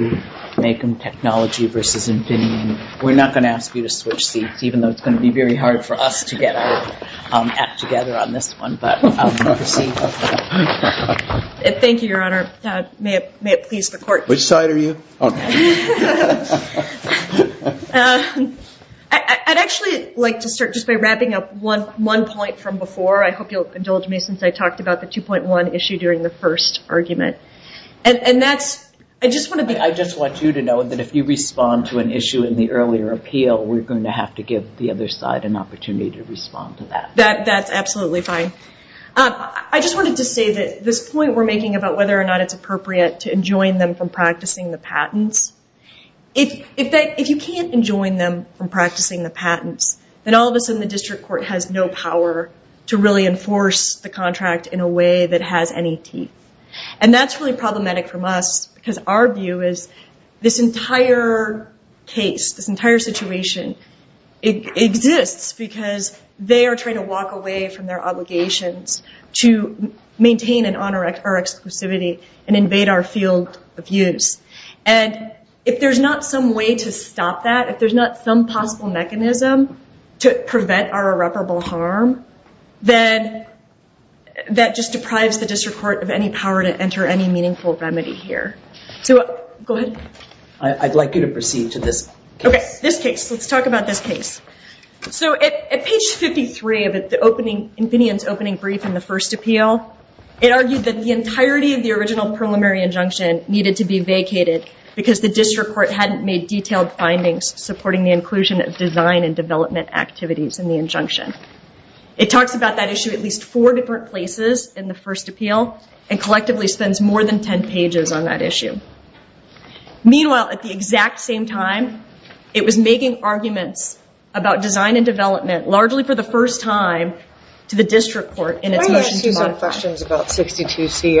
We're not going to ask you to switch seats, even though it's going to be very hard for us to get together on this one. Thank you, Your Honor. May it please the Court. Which side are you on? I'd actually like to start just by wrapping up one point from before. I hope you'll indulge me since I talked about the 2.1 issue during the first argument. I just want you to know that if you respond to an issue in the earlier appeal, we're going to have to give the other side an opportunity to respond to that. That's absolutely fine. I just wanted to say that this point we're making about whether or not it's appropriate to enjoin them from practicing the patents, if you can't enjoin them from practicing the patents, then all of a sudden the District Court has no power to really enforce the contract in a way that has any teeth. That's really problematic for us because our view is this entire case, this entire situation exists because they are trying to walk away from their obligations to maintain and honor our exclusivity and invade our field of use. If there's not some way to stop that, if there's not some possible mechanism to prevent our irreparable harm, then that just deprives the District Court of any power to enter any meaningful remedy here. I'd like you to proceed to this case. Let's talk about this case. At page 53 of Infineon's opening brief in the first appeal, it argued that the entirety of the original preliminary injunction needed to be vacated because the District Court hadn't made detailed findings supporting the inclusion of design and development activities in the injunction. It talks about that issue at least four different places in the first appeal and collectively spends more than 10 pages on that issue. Meanwhile, at the exact same time, it was making arguments about design and development, largely for the first time, to the District Court in its motion to modify. Can I ask you some questions about 62C?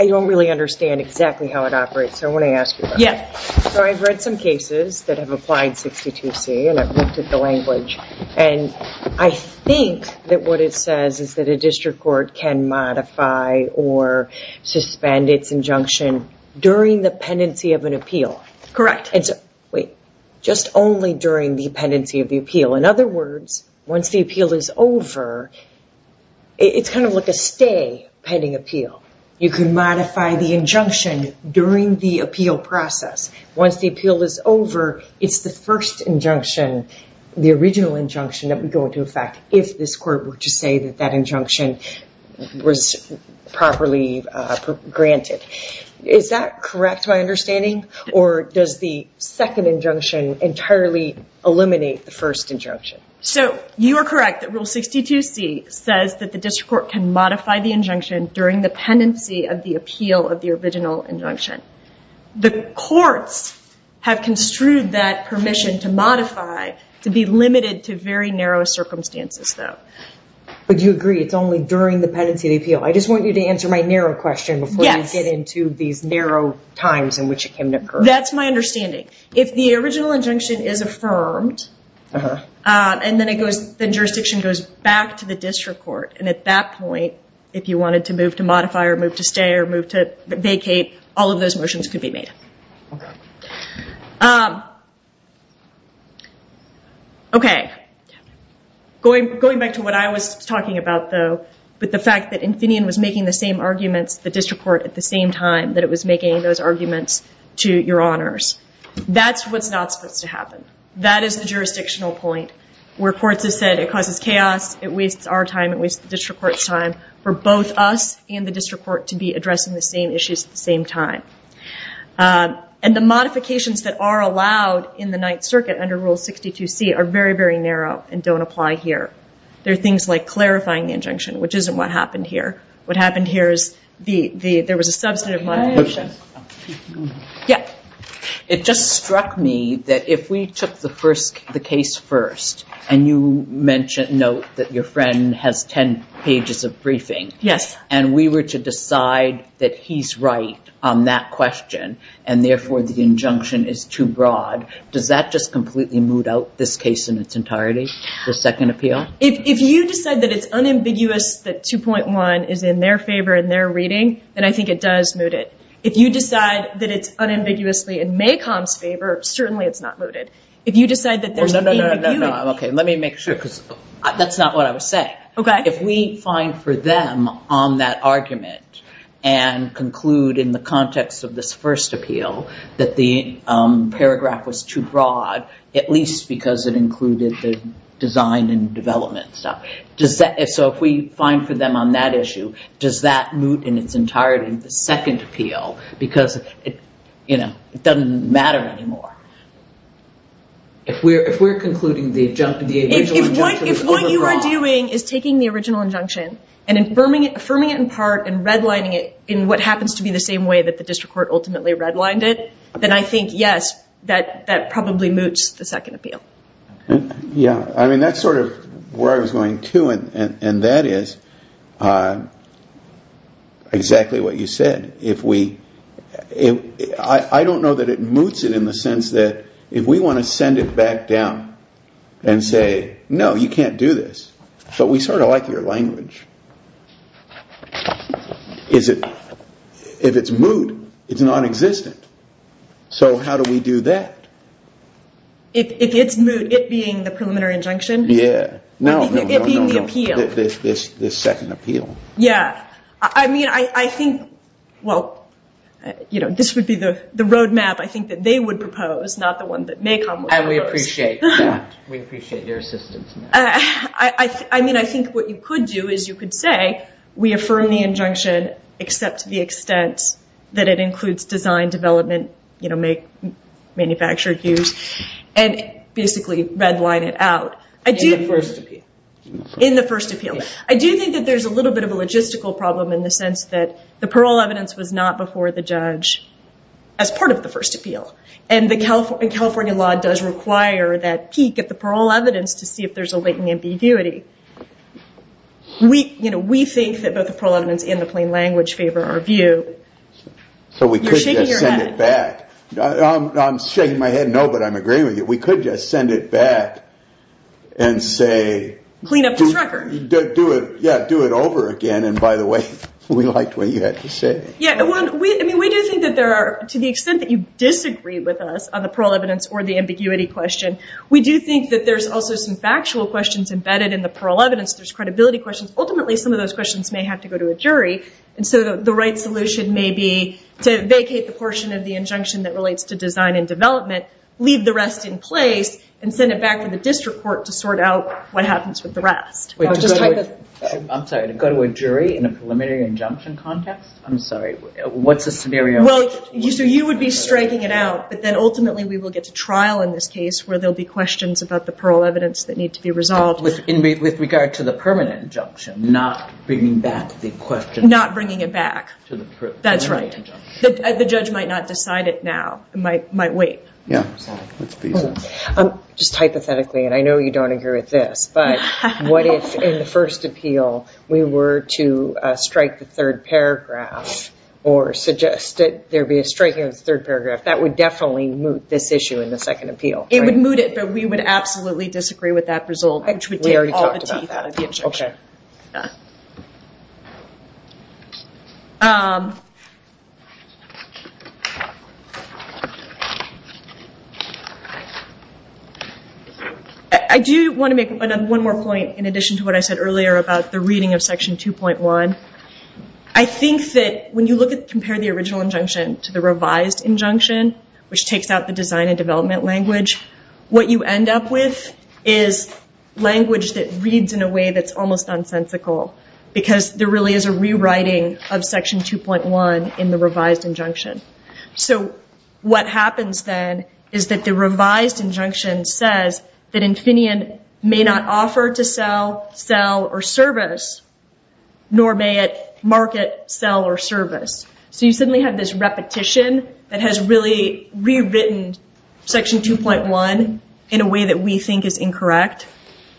I don't really understand exactly how it operates, so I want to ask you about it. I've read some cases that have applied 62C, and I've looked at the language, and I think that what it says is that a District Court can modify or suspend its injunction during the pendency of an appeal. Correct. Wait. Just only during the pendency of the appeal. In other words, once the appeal is over, it's kind of like a stay pending appeal. You can modify the injunction during the appeal process. Once the appeal is over, it's the first injunction, the original injunction, that would go into effect if this court were to say that that injunction was properly granted. Is that correct, my understanding, or does the second injunction entirely eliminate the first injunction? You are correct that Rule 62C says that the District Court can modify the injunction during the pendency of the appeal of the original injunction. The courts have construed that permission to modify to be limited to very narrow circumstances, though. Do you agree it's only during the pendency of the appeal? I just want you to answer my narrow question before you get into these narrow times in which it can occur. That's my understanding. If the original injunction is affirmed, then jurisdiction goes back to the District Court. And at that point, if you wanted to move to modify or move to stay or move to vacate, all of those motions could be made. Okay. Going back to what I was talking about, though, with the fact that Infineon was making the same arguments, the District Court, at the same time that it was making those arguments to Your Honors. That's what's not supposed to happen. That is the jurisdictional point where courts have said it causes chaos, it wastes our time, it wastes the District Court's time for both us and the District Court to be addressing the same issues at the same time. And the modifications that are allowed in the Ninth Circuit under Rule 62C are very, very narrow and don't apply here. There are things like clarifying the injunction, which isn't what happened here. What happened here is there was a substantive modification. It just struck me that if we took the case first, and you note that your friend has 10 pages of briefing, and we were to decide that he's right on that question, and therefore the injunction is too broad, does that just completely moot out this case in its entirety, the second appeal? If you decide that it's unambiguous that 2.1 is in their favor in their reading, then I think it does moot it. If you decide that it's unambiguously in MACOM's favor, certainly it's not mooted. Let me make sure, because that's not what I was saying. If we find for them on that argument and conclude in the context of this first appeal that the paragraph was too broad, at least because it included the design and development stuff. If we find for them on that issue, does that moot in its entirety the second appeal? Because it doesn't matter anymore. If what you are doing is taking the original injunction and affirming it in part and redlining it in what happens to be the same way that the district court ultimately redlined it, then I think, yes, that probably moots the second appeal. That's sort of where I was going, too, and that is exactly what you said. I don't know that it moots it in the sense that if we want to send it back down and say, no, you can't do this, but we sort of like your language, if it's moot, it's nonexistent, so how do we do that? If it's moot, it being the preliminary injunction? No, no, no. It being the appeal. The second appeal. Yeah. I mean, I think, well, this would be the road map, I think, that they would propose, not the one that Macon would propose. And we appreciate that. We appreciate your assistance. I mean, I think what you could do is you could say, we affirm the injunction, except to the extent that it includes design, development, manufacture, use, and basically redline it out. In the first appeal. I do think that there's a little bit of a logistical problem in the sense that the parole evidence was not before the judge as part of the first appeal, and the California law does require that he get the parole evidence to see if there's a latent ambiguity. We think that both the parole evidence and the plain language favor our view. So we could just send it back. You're shaking your head. I'm shaking my head no, but I'm agreeing with you. We could just send it back and say. Clean up his record. Yeah, do it over again. And by the way, we liked what you had to say. I mean, we do think that there are, to the extent that you disagree with us on the parole evidence or the ambiguity question, we do think that there's also some factual questions embedded in the parole evidence. There's credibility questions. Ultimately, some of those questions may have to go to a jury. And so the right solution may be to vacate the portion of the injunction that relates to design and development, leave the rest in place, and send it back to the district court to sort out what happens with the rest. I'm sorry, to go to a jury in a preliminary injunction context? I'm sorry. What's the scenario? Well, so you would be striking it out, but then ultimately we will get to trial in this case where there'll be questions about the parole evidence that need to be resolved. With regard to the permanent injunction, not bringing back the question. Not bringing it back. To the permanent injunction. That's right. The judge might not decide it now. It might wait. Yeah. Just hypothetically, and I know you don't agree with this, but what if in the first appeal we were to strike the third paragraph or suggest that there be a strike here in the third paragraph? That would definitely moot this issue in the second appeal. It would moot it, but we would absolutely disagree with that result. Which would take all the teeth out of the injunction. Okay. I do want to make one more point in addition to what I said earlier about the reading of section 2.1. I think that when you compare the original injunction to the revised injunction, which takes out the design and development language, what you end up with is language that reads in a way that's almost nonsensical. Because there really is a rewriting of section 2.1 in the revised injunction. So what happens then is that the revised injunction says that Infineon may not offer to sell, sell, or service, nor may it market, sell, or service. So you suddenly have this repetition that has really rewritten section 2.1 in a way that we think is incorrect.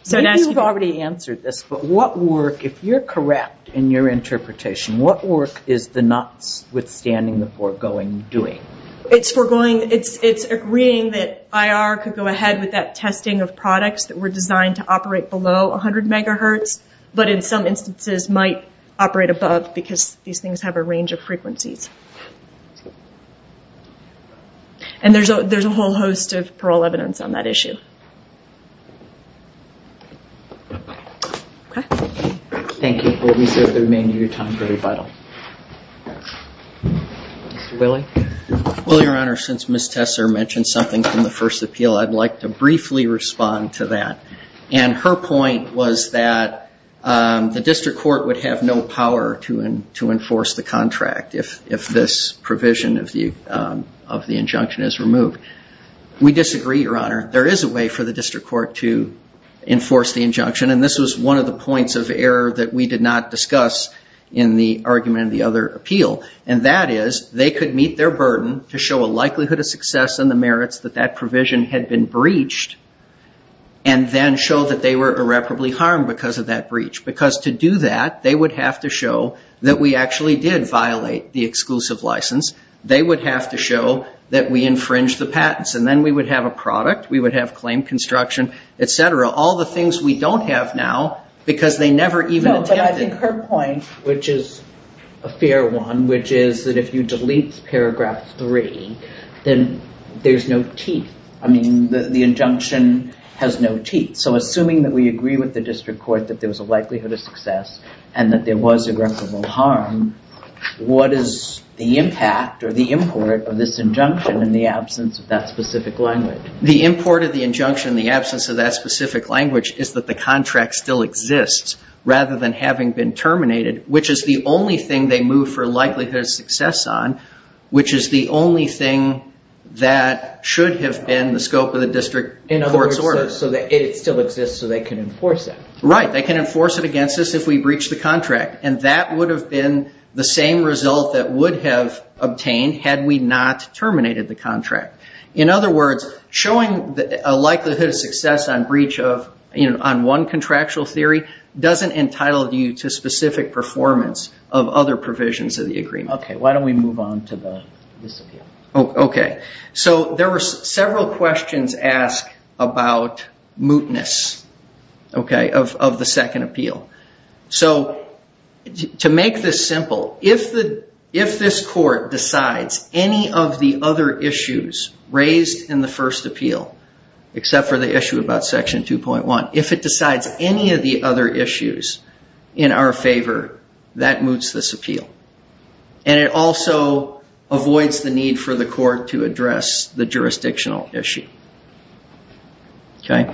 I think you've already answered this, but what work, if you're correct in your interpretation, what work is the notwithstanding the foregoing doing? It's agreeing that IR could go ahead with that testing of products that were designed to operate below 100 megahertz, but in some instances might operate above because these things have a range of frequencies. And there's a whole host of parole evidence on that issue. Okay. Thank you. We'll reserve the remainder of your time for rebuttal. Mr. Willey? Well, Your Honor, since Ms. Tesser mentioned something from the first appeal, I'd like to briefly respond to that. And her point was that the district court would have no power to enforce the contract if this provision of the injunction is removed. We disagree, Your Honor. There is a way for the district court to enforce the injunction, and this was one of the points of error that we did not discuss in the argument of the other appeal. And that is they could meet their burden to show a likelihood of success in the merits that that provision had been breached, and then show that they were irreparably harmed because of that breach. Because to do that, they would have to show that we actually did violate the exclusive license. They would have to show that we infringed the patents. And then we would have a product. We would have claim construction, et cetera, all the things we don't have now because they never even attempted it. But I think her point, which is a fair one, which is that if you delete paragraph three, then there's no teeth. I mean, the injunction has no teeth. So assuming that we agree with the district court that there was a likelihood of success and that there was irreparable harm, what is the impact or the import of this injunction in the absence of that specific language? The import of the injunction in the absence of that specific language is that the contract still exists rather than having been terminated, which is the only thing they move for likelihood of success on, which is the only thing that should have been the scope of the district court's order. In other words, it still exists so they can enforce it. Right. They can enforce it against us if we breach the contract. And that would have been the same result that would have obtained had we not terminated the contract. In other words, showing a likelihood of success on breach of one contractual theory doesn't entitle you to specific performance of other provisions of the agreement. Okay. Why don't we move on to this appeal? Okay. So there were several questions asked about mootness of the second appeal. So to make this simple, if this court decides any of the other issues raised in the first appeal, except for the issue about section 2.1, if it decides any of the other issues in our favor, that moots this appeal. And it also avoids the need for the court to address the jurisdictional issue. Okay.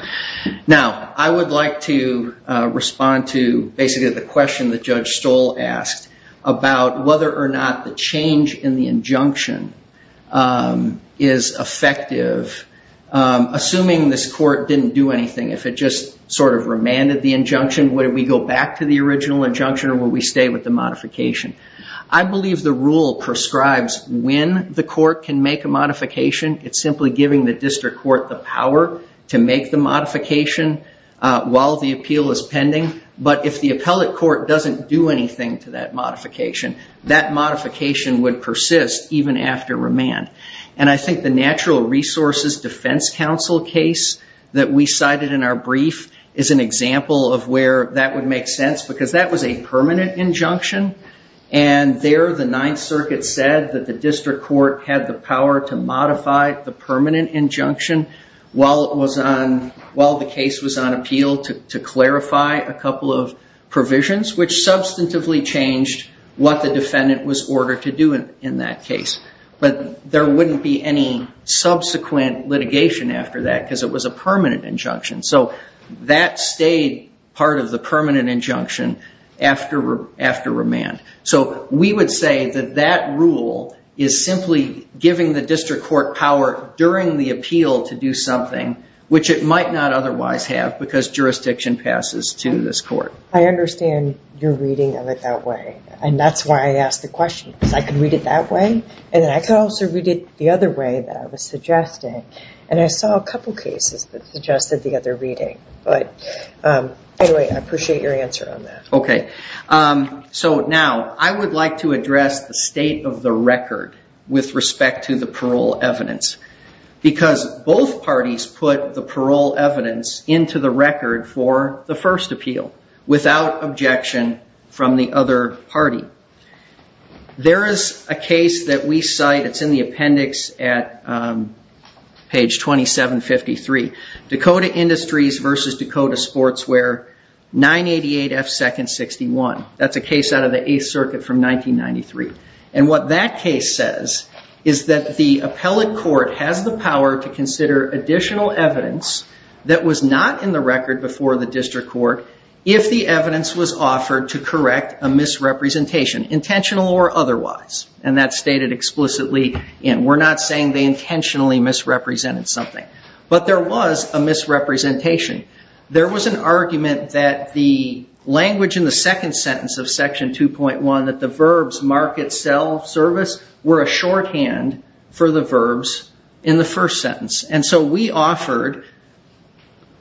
Now, I would like to respond to basically the question that Judge Stoll asked about whether or not the change in the injunction is effective. Assuming this court didn't do anything, if it just sort of remanded the injunction, would we go back to the original injunction or would we stay with the modification? I believe the rule prescribes when the court can make a modification. It's simply giving the district court the power to make the modification while the appeal is pending. But if the appellate court doesn't do anything to that modification, that modification would persist even after remand. And I think the natural resources defense counsel case that we cited in our brief is an example of where that would make sense because that was a permanent injunction. And there the Ninth Circuit said that the district court had the power to modify the permanent injunction while the case was on appeal to clarify a couple of provisions, which substantively changed what the defendant was ordered to do in that case. But there wouldn't be any subsequent litigation after that because it was a permanent injunction. So that stayed part of the permanent injunction after remand. So we would say that that rule is simply giving the district court power during the appeal to do something, which it might not otherwise have because jurisdiction passes to this court. I understand your reading of it that way. And that's why I asked the question, because I can read it that way and then I can also read it the other way that I was suggesting. And I saw a couple cases that suggested the other reading. But anyway, I appreciate your answer on that. Okay. So now I would like to address the state of the record with respect to the parole evidence. Because both parties put the parole evidence into the record for the first appeal without objection from the other party. There is a case that we cite. It's in the appendix at page 2753. Dakota Industries versus Dakota Sportswear, 988F2nd61. That's a case out of the 8th Circuit from 1993. And what that case says is that the appellate court has the power to consider additional evidence that was not in the record before the district court if the evidence was offered to correct a misrepresentation, intentional or otherwise. And that's stated explicitly. We're not saying they intentionally misrepresented something. But there was a misrepresentation. There was an argument that the language in the second sentence of section 2.1, that the verbs, market, sell, service, were a shorthand for the verbs in the first sentence. And so we offered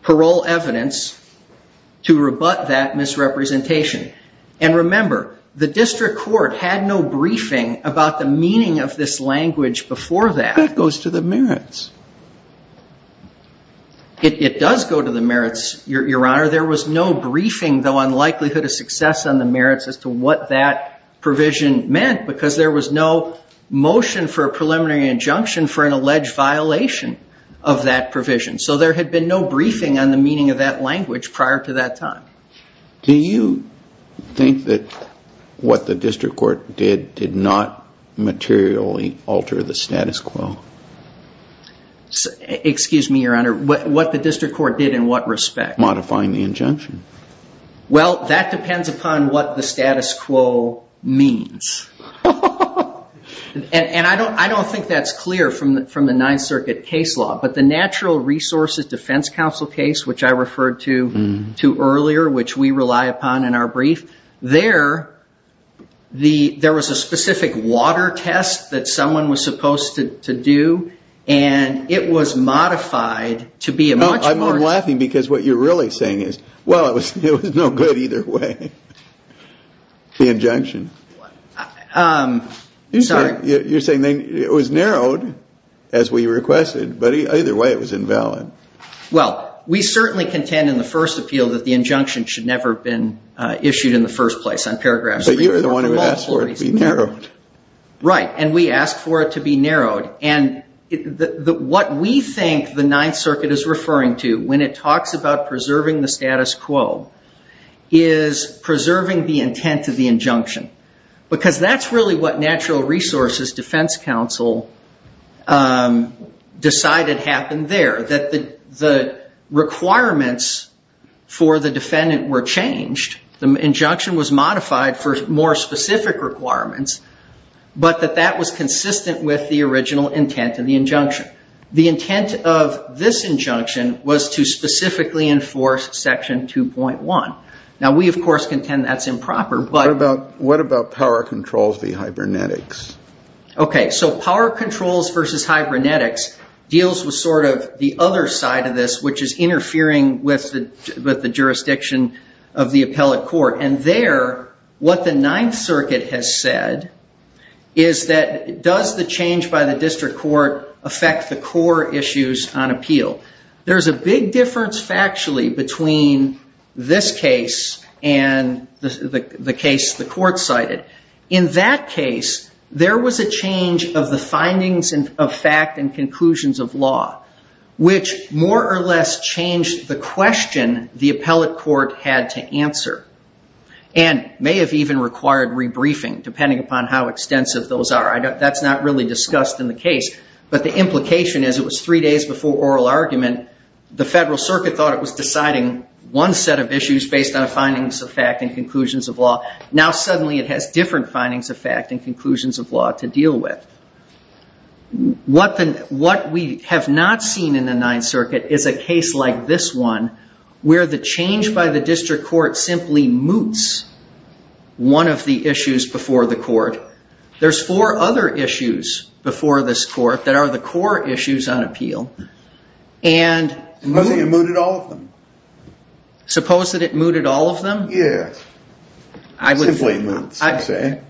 parole evidence to rebut that misrepresentation. And remember, the district court had no briefing about the meaning of this language before that. That goes to the merits. It does go to the merits, Your Honor. There was no briefing, though, on likelihood of success on the merits as to what that provision meant because there was no motion for a preliminary injunction for an alleged violation of that provision. So there had been no briefing on the meaning of that language prior to that time. Do you think that what the district court did did not materially alter the status quo? Excuse me, Your Honor. What the district court did in what respect? Modifying the injunction. Well, that depends upon what the status quo means. And I don't think that's clear from the Ninth Circuit case law. But the Natural Resources Defense Council case, which I referred to earlier, which we rely upon in our brief, there was a specific water test that someone was supposed to do, and it was modified to be a much more- Well, it was no good either way, the injunction. I'm sorry. You're saying it was narrowed as we requested, but either way it was invalid. Well, we certainly contend in the first appeal that the injunction should never have been issued in the first place. So you were the one who asked for it to be narrowed. Right. And we asked for it to be narrowed. And what we think the Ninth Circuit is referring to when it talks about preserving the status quo is preserving the intent of the injunction, because that's really what Natural Resources Defense Council decided happened there, that the requirements for the defendant were changed. The injunction was modified for more specific requirements, but that that was consistent with the original intent of the injunction. The intent of this injunction was to specifically enforce Section 2.1. Now, we, of course, contend that's improper, but- What about power controls v. hibernetics? Okay, so power controls versus hibernetics deals with sort of the other side of this, which is interfering with the jurisdiction of the appellate court. And there, what the Ninth Circuit has said is that, does the change by the district court affect the core issues on appeal? There's a big difference factually between this case and the case the court cited. In that case, there was a change of the findings of fact and conclusions of law, which more or less changed the question the appellate court had to answer and may have even required rebriefing, depending upon how extensive those are. That's not really discussed in the case, but the implication is it was three days before oral argument. The Federal Circuit thought it was deciding one set of issues based on findings of fact and conclusions of law. Now, suddenly, it has different findings of fact and conclusions of law to deal with. What we have not seen in the Ninth Circuit is a case like this one, where the change by the district court simply moots one of the issues before the court. There's four other issues before this court that are the core issues on appeal. Supposing it mooted all of them? Suppose that it mooted all of them? Yes. Simply moots, you say.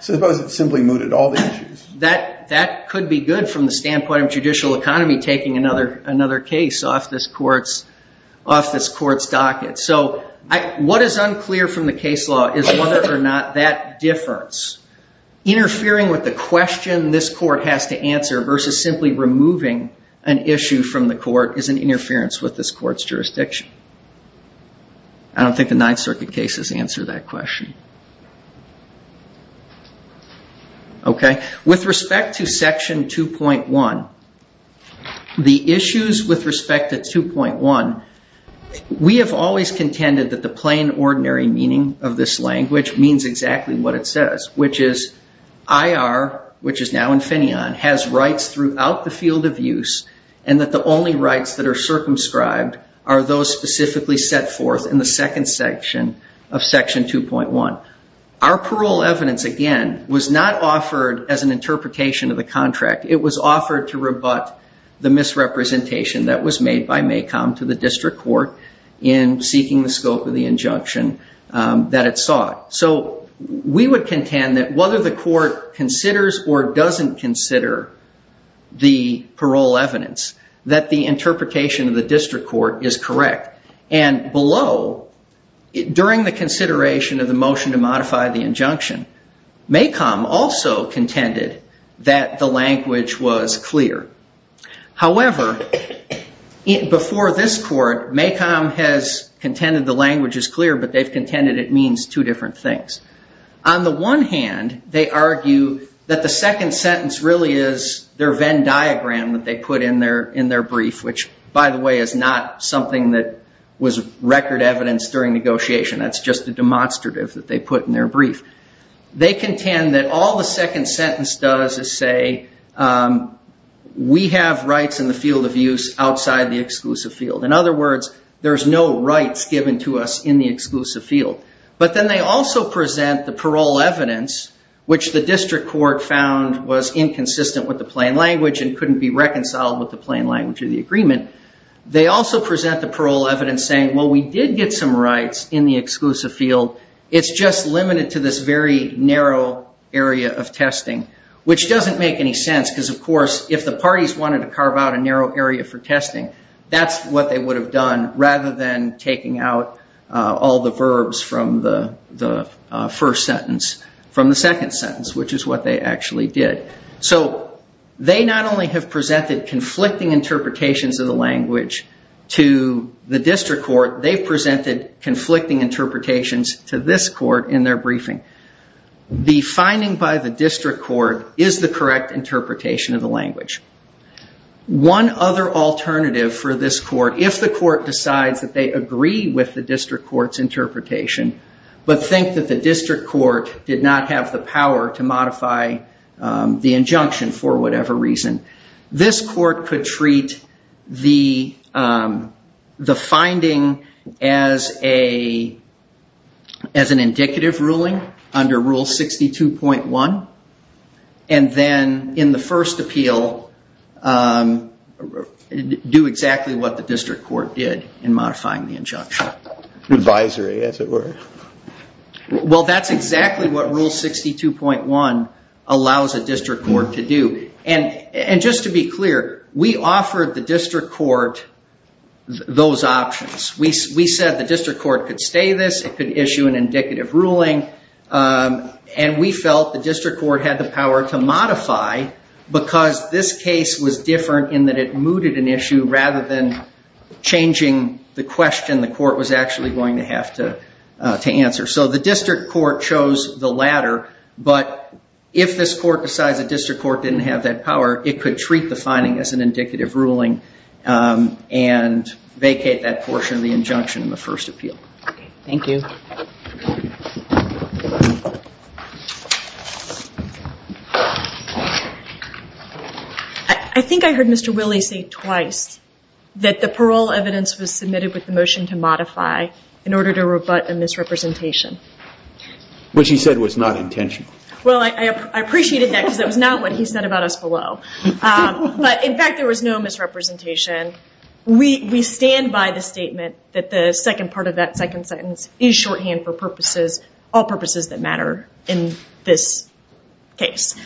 Suppose it simply mooted all the issues. That could be good from the standpoint of judicial economy taking another case off this court's docket. What is unclear from the case law is whether or not that difference, interfering with the question this court has to answer versus simply removing an issue from the court, is an interference with this court's jurisdiction. I don't think the Ninth Circuit cases answer that question. With respect to Section 2.1, the issues with respect to 2.1, we have always contended that the plain, ordinary meaning of this language means exactly what it says, which is IR, which is now Infineon, has rights throughout the field of use, and that the only rights that are circumscribed are those specifically set forth in the second section of Section 2.1. Our parole evidence, again, was not offered as an interpretation of the contract. It was offered to rebut the misrepresentation that was made by MACOM to the district court in seeking the scope of the injunction that it sought. We would contend that whether the court considers or doesn't consider the parole evidence, that the interpretation of the district court is correct. And below, during the consideration of the motion to modify the injunction, MACOM also contended that the language was clear. However, before this court, MACOM has contended the language is clear, but they've contended it means two different things. On the one hand, they argue that the second sentence really is their Venn diagram that they put in their brief, which, by the way, is not something that was record evidence during negotiation. That's just a demonstrative that they put in their brief. They contend that all the second sentence does is say, we have rights in the field of use outside the exclusive field. In other words, there's no rights given to us in the exclusive field. But then they also present the parole evidence, which the district court found was inconsistent with the plain language and couldn't be reconciled with the plain language of the agreement. They also present the parole evidence saying, well, we did get some rights in the exclusive field. It's just limited to this very narrow area of testing, which doesn't make any sense because, of course, if the parties wanted to carve out a narrow area for testing, that's what they would have done rather than taking out all the verbs from the first sentence from the second sentence, which is what they actually did. So they not only have presented conflicting interpretations of the language to the district court, they've presented conflicting interpretations to this court in their briefing. The finding by the district court is the correct interpretation of the language. One other alternative for this court, if the court decides that they agree with the district court's interpretation, but think that the district court did not have the power to modify the injunction for whatever reason, this court could treat the finding as an indicative ruling under Rule 62.1. And then in the first appeal, do exactly what the district court did in modifying the injunction. Advisory, as it were. Well, that's exactly what Rule 62.1 allows a district court to do. And just to be clear, we offered the district court those options. We said the district court could stay this. It could issue an indicative ruling. And we felt the district court had the power to modify because this case was different in that it mooted an issue rather than changing the question the court was actually going to have to answer. So the district court chose the latter. But if this court decides the district court didn't have that power, it could treat the finding as an indicative ruling and vacate that portion of the injunction in the first appeal. Thank you. I think I heard Mr. Willey say twice that the parole evidence was submitted with the motion to modify in order to rebut a misrepresentation. Which he said was not intentional. Well, I appreciated that because that was not what he said about us below. But, in fact, there was no misrepresentation. We stand by the statement that the second part of that second sentence is shorthand for all purposes that matter in this case.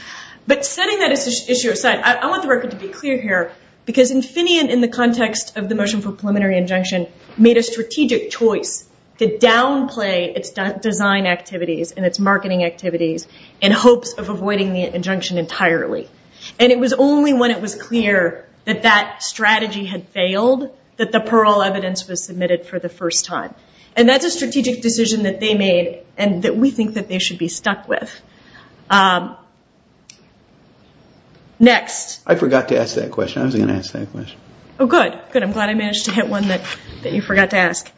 But setting that issue aside, I want the record to be clear here because Infineon, in the context of the motion for preliminary injunction, made a strategic choice to downplay its design activities and its marketing activities in hopes of avoiding the injunction entirely. And it was only when it was clear that that strategy had failed that the parole evidence was submitted for the first time. And that's a strategic decision that they made and that we think that they should be stuck with. Next. I forgot to ask that question. I wasn't going to ask that question. Oh, good. Good, I'm glad I managed to hit one that you forgot to ask.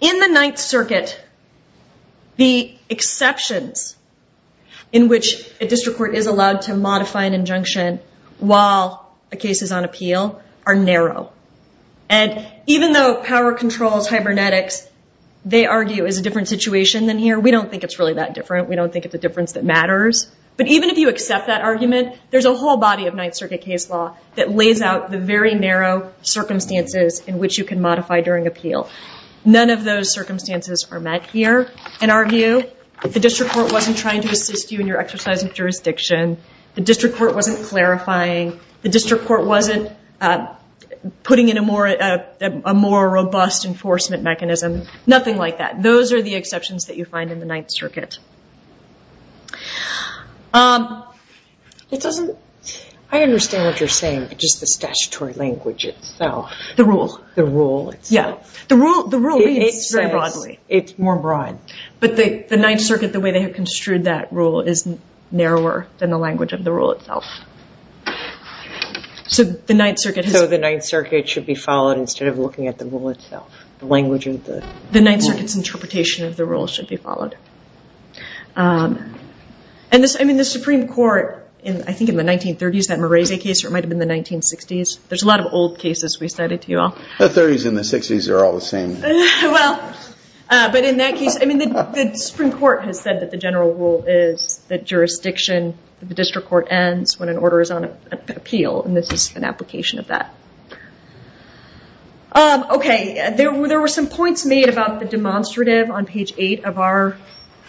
In the Ninth Circuit, the exceptions in which a district court is allowed to modify an injunction while a case is on appeal are narrow. And even though power controls, hibernetics, they argue is a different situation than here, we don't think it's really that different. We don't think it's a difference that matters. But even if you accept that argument, there's a whole body of Ninth Circuit case law that lays out the very narrow circumstances in which you can modify during appeal. None of those circumstances are met here, in our view. The district court wasn't trying to assist you in your exercise of jurisdiction. The district court wasn't clarifying. The district court wasn't putting in a more robust enforcement mechanism. Nothing like that. Those are the exceptions that you find in the Ninth Circuit. I understand what you're saying, but just the statutory language itself. The rule. The rule itself. Yeah. The rule is very broadly. It's more broad. But the Ninth Circuit, the way they have construed that rule is narrower than the language of the rule itself. So the Ninth Circuit has... So the Ninth Circuit should be followed instead of looking at the rule itself, the language of the rule. The Ninth Circuit's interpretation of the rule should be followed. I mean, the Supreme Court, I think in the 1930s, that Morese case, or it might have been the 1960s. There's a lot of old cases we cited to you all. The 30s and the 60s are all the same. Well, but in that case, I mean, the Supreme Court has said that the general rule is that jurisdiction, the district court ends when an order is on appeal, and this is an application of that. Okay. There were some points made about the demonstrative on page 8 of our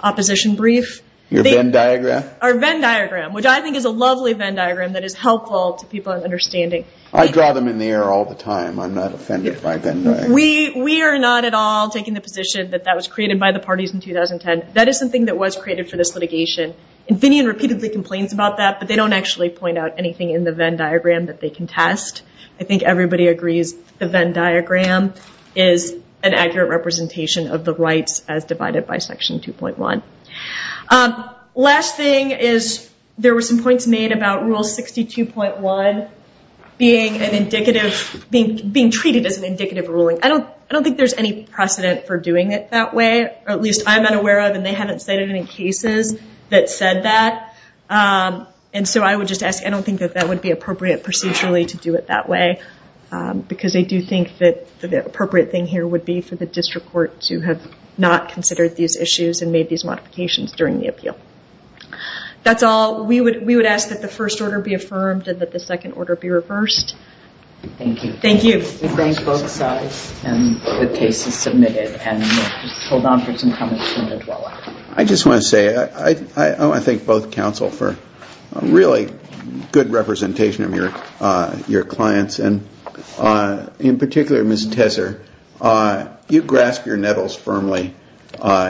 opposition brief. Your Venn diagram? Our Venn diagram, which I think is a lovely Venn diagram that is helpful to people in understanding. I draw them in the air all the time. I'm not offended by Venn diagrams. We are not at all taking the position that that was created by the parties in 2010. That is something that was created for this litigation. And Finian repeatedly complains about that, but they don't actually point out anything in the Venn diagram that they can test. I think everybody agrees the Venn diagram is an accurate representation of the rights as divided by Section 2.1. Last thing is there were some points made about Rule 62.1 being treated as an indicative ruling. I don't think there's any precedent for doing it that way, or at least I'm not aware of, and they haven't stated it in cases that said that. And so I would just ask, I don't think that that would be appropriate procedurally to do it that way, because I do think that the appropriate thing here would be for the district court to have not considered these issues and made these modifications during the appeal. That's all. We would ask that the first order be affirmed and that the second order be reversed. Thank you. Thank you. We thank both sides, and the case is submitted. And we'll hold on for some comments from the dweller. I just want to say, I want to thank both counsel for a really good representation of your clients, and in particular, Ms. Tesser. You grasp your nettles firmly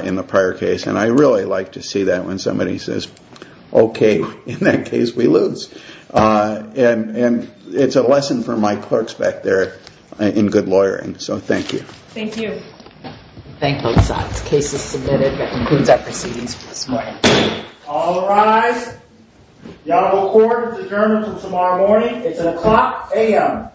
in the prior case, and I really like to see that when somebody says, okay, in that case we lose. And it's a lesson for my clerks back there in good lawyering. So thank you. Thank you. Thank both sides. Case is submitted. That concludes our proceedings for this morning. All rise. The Honorable Court is adjourned until tomorrow morning. It's at o'clock a.m.